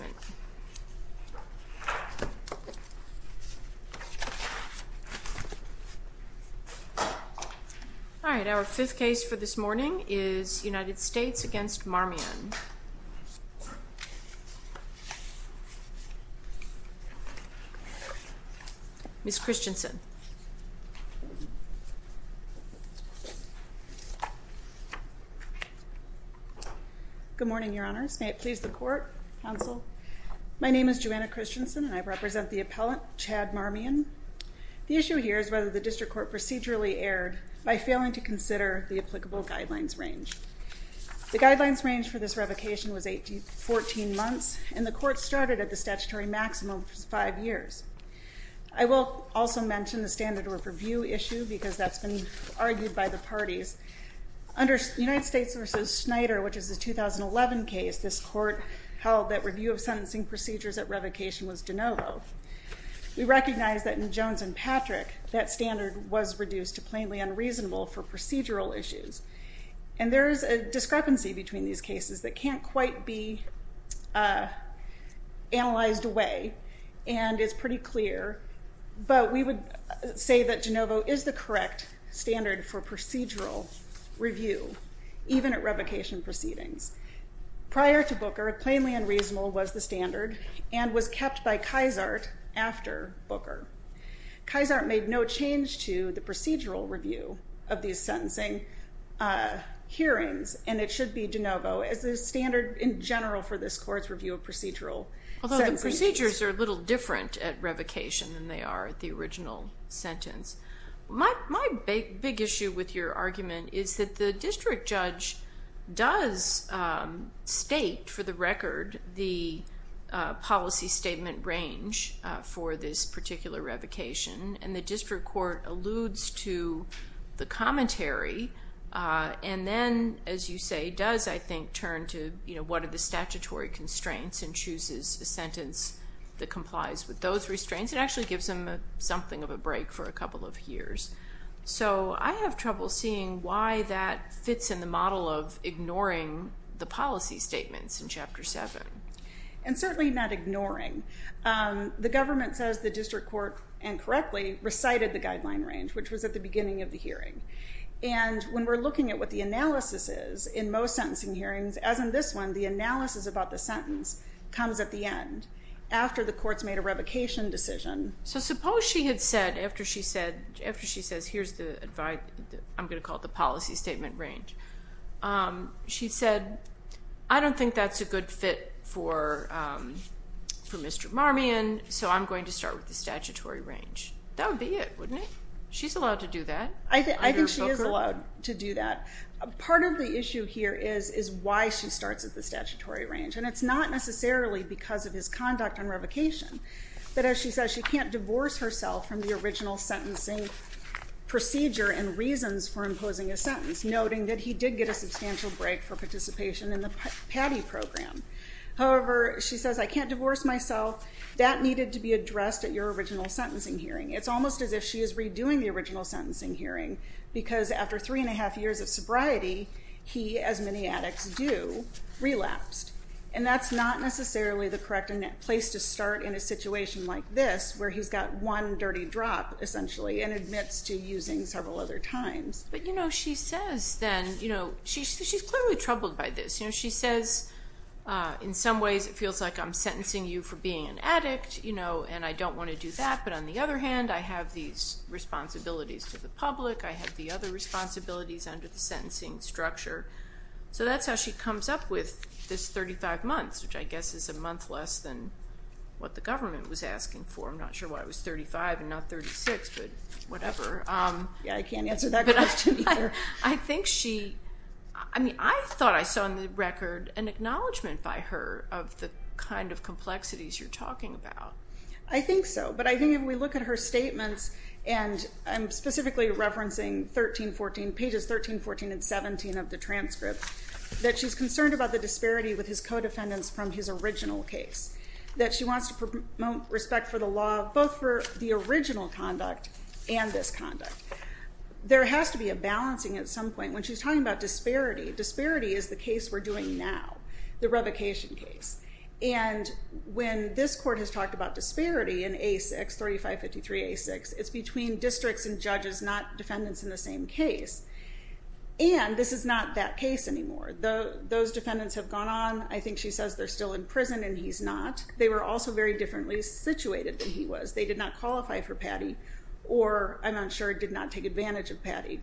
All right, our fifth case for this morning is United States v. Marmion. Ms. Christensen. Good morning, your honors. May it please the court, counsel. My name is Joanna Christensen and I represent the appellant, Chad Marmion. The issue here is whether the district court procedurally erred by failing to consider the applicable guidelines range. The guidelines range for this revocation was 14 months and the court started at the statutory maximum of five years. I will also mention the standard of review issue because that's been argued by the parties. Under United States v. Snyder, which is a 2011 case, this court held that review of sentencing procedures at revocation was de novo. We recognize that in Jones v. Patrick, that standard was reduced to plainly unreasonable for procedural issues. And there is a discrepancy between these cases that can't quite be analyzed away and is pretty clear, but we would say that de novo is the correct standard for procedural review, even at revocation proceedings. Prior to Booker, plainly unreasonable was the standard and was kept by Kysart after Booker. Kysart made no change to the procedural review of these sentencing hearings, and it should be de novo as the standard in general for this court's review of procedural sentencing. Although the procedures are a little different at revocation than they are at the original sentence. My big issue with your argument is that the district judge does state, for the record, the policy statement range for this particular revocation, and the district court alludes to the commentary and then, as you say, does, I think, turn to what are the statutory constraints and chooses a sentence that complies with those restraints. It actually gives them something of a break for a couple of years. So I have trouble seeing why that fits in the model of ignoring the policy statements in Chapter 7. And certainly not ignoring. The government says the district court, and correctly, recited the guideline range, which was at the beginning of the hearing. And when we're looking at what the analysis is in most sentencing hearings, as in this one, the analysis about the sentence comes at the end, after the court's made a revocation decision. So suppose she had said, after she says, here's the advice, I'm going to call it the policy statement range, she said, I don't think that's a good fit for Mr. Marmion, so I'm going to start with the statutory range. That would be it, wouldn't it? She's allowed to do that? I think she is allowed to do that. Part of the issue here is why she starts at the statutory range. And it's not necessarily because of his conduct on revocation. But as she says, she can't divorce herself from the original sentencing procedure and reasons for imposing a sentence, noting that he did get a substantial break for participation in the PATI program. However, she says, I can't divorce myself. That needed to be addressed at your original sentencing hearing. It's almost as if she is redoing the original sentencing hearing, because after three and a half years of sobriety, he, as many addicts do, relapsed. And that's not necessarily the correct place to start in a situation like this, where he's got one dirty drop, essentially, and admits to using several other times. But, you know, she says then, you know, she's clearly troubled by this. You know, she says, in some ways it feels like I'm sentencing you for being an addict, you know, and I don't want to do that. But on the other hand, I have these responsibilities to the public. I have the other responsibilities under the sentencing structure. So that's how she comes up with this 35 months, which I guess is a month less than what the government was asking for. I'm not sure why it was 35 and not 36, but whatever. Yeah, I can't answer that question either. I think she, I mean, I thought I saw in the record an acknowledgement by her of the kind of complexities you're talking about. I think so, but I think if we look at her statements, and I'm specifically referencing 13, 14, pages 13, 14, and 17 of the transcript, that she's concerned about the disparity with his co-defendants from his original case, that she wants to promote respect for the law, both for the original conduct and this conduct. There has to be a balancing at some point. When she's talking about disparity, disparity is the case we're doing now, the revocation case. And when this court has talked about disparity in A6, 3553A6, it's between districts and judges, not defendants in the same case. And this is not that case anymore. Those defendants have gone on. I think she says they're still in prison and he's not. They were also very differently situated than he was. They did not qualify for PATI or, I'm unsure, did not take advantage of PATI.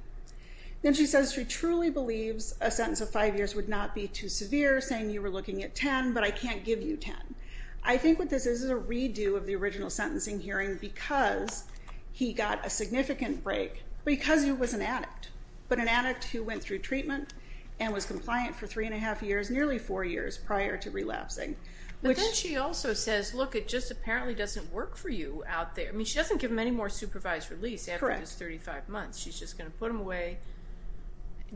Then she says she truly believes a sentence of five years would not be too severe, saying you were looking at ten, but I can't give you ten. I think what this is is a redo of the original sentencing hearing because he got a significant break because he was an addict, but an addict who went through treatment and was compliant for three and a half years, nearly four years prior to relapsing. But then she also says, look, it just apparently doesn't work for you out there. I mean, she doesn't give him any more supervised release after his 35 months. She's just going to put him away.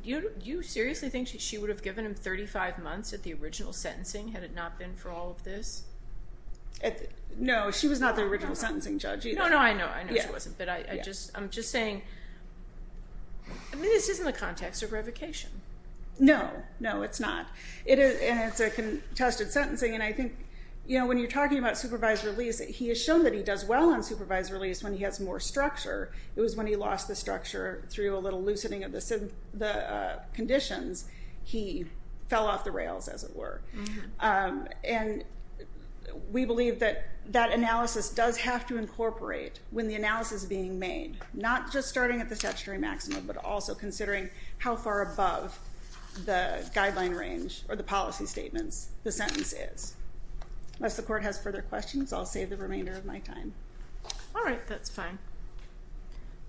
Do you seriously think she would have given him 35 months at the original sentencing had it not been for all of this? No. She was not the original sentencing judge either. No, no, I know. I know she wasn't, but I'm just saying this isn't the context of revocation. No. No, it's not. And it's a contested sentencing, and I think when you're talking about supervised release, he has shown that he does well on supervised release when he has more structure. It was when he lost the structure through a little loosening of the conditions, he fell off the rails, as it were. And we believe that that analysis does have to incorporate when the analysis is being made, not just starting at the statutory maximum, but also considering how far above the guideline range or the policy statements the sentence is. Unless the court has further questions, I'll save the remainder of my time. All right. That's fine.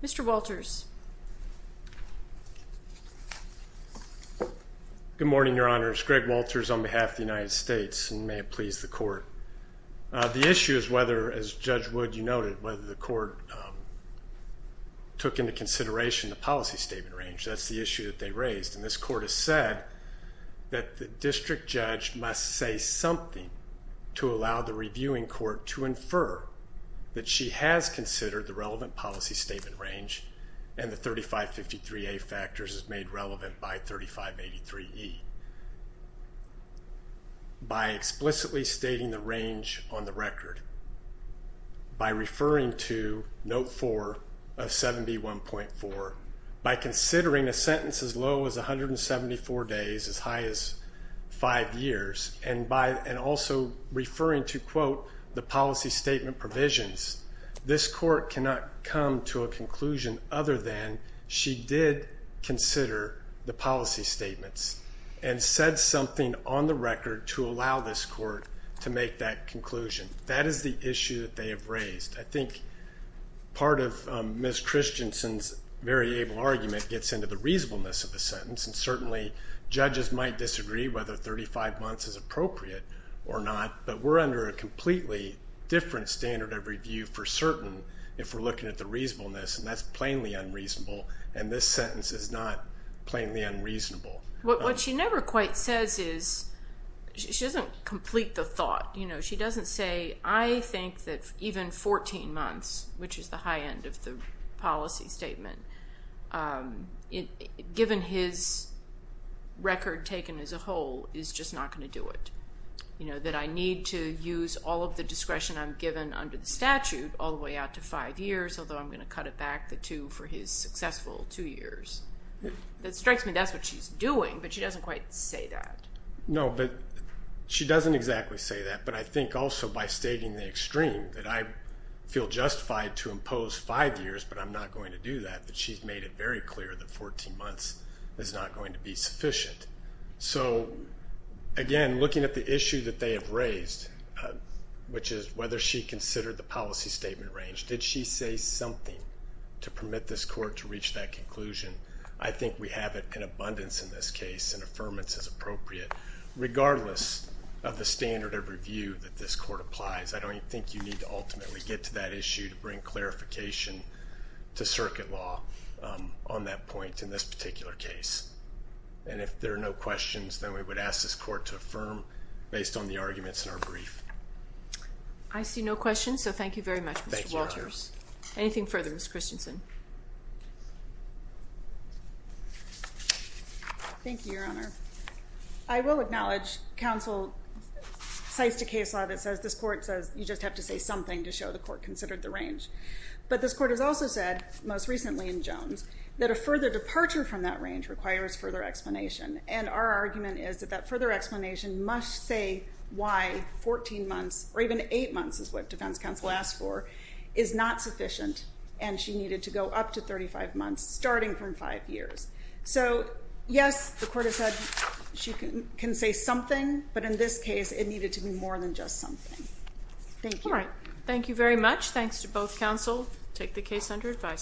Mr. Walters. Good morning, Your Honors. Greg Walters on behalf of the United States, and may it please the court. The issue is whether, as Judge Wood, you noted, whether the court took into consideration the policy statement range. That's the issue that they raised. And this court has said that the district judge must say something to allow the reviewing court to infer that she has considered the relevant policy statement range and the 3553A factors as made relevant by 3583E. By explicitly stating the range on the record, by referring to Note 4 of 7B1.4, by considering a sentence as low as 174 days, as high as five years, and also referring to, quote, the policy statement provisions, this court cannot come to a conclusion other than she did consider the policy statements and said something on the record to allow this court to make that conclusion. That is the issue that they have raised. I think part of Ms. Christensen's very able argument gets into the reasonableness of the sentence, and certainly judges might disagree whether 35 months is appropriate or not, but we're under a completely different standard of review for certain if we're looking at the reasonableness, and that's plainly unreasonable, and this sentence is not plainly unreasonable. What she never quite says is, she doesn't complete the thought. She doesn't say, I think that even 14 months, which is the high end of the policy statement, given his record taken as a whole, is just not going to do it, that I need to use all of the discretion I'm given under the statute all the way out to five years, although I'm going to cut it back the two for his successful two years. That strikes me that's what she's doing, but she doesn't quite say that. No, but she doesn't exactly say that, but I think also by stating the extreme, that I feel justified to impose five years, but I'm not going to do that, that she's made it very clear that 14 months is not going to be sufficient. So, again, looking at the issue that they have raised, which is whether she considered the policy statement range, did she say something to permit this court to reach that conclusion? I think we have an abundance in this case and affirmance is appropriate, regardless of the standard of review that this court applies. I don't think you need to ultimately get to that issue to bring clarification to circuit law on that point in this particular case. And if there are no questions, then we would ask this court to affirm based on the arguments in our brief. I see no questions, so thank you very much, Mr. Walters. Anything further, Ms. Christensen? Thank you, Your Honor. I will acknowledge counsel cites a case law that says this court says you just have to say something to show the court considered the range. But this court has also said, most recently in Jones, that a further departure from that range requires further explanation. And our argument is that that further explanation must say why 14 months, or even eight months is what defense counsel asked for, is not sufficient and she needed to go up to 35 months, starting from five years. So, yes, the court has said she can say something, but in this case it needed to be more than just something. Thank you. All right. Thank you very much. Thanks to both counsel. Take the case under advice.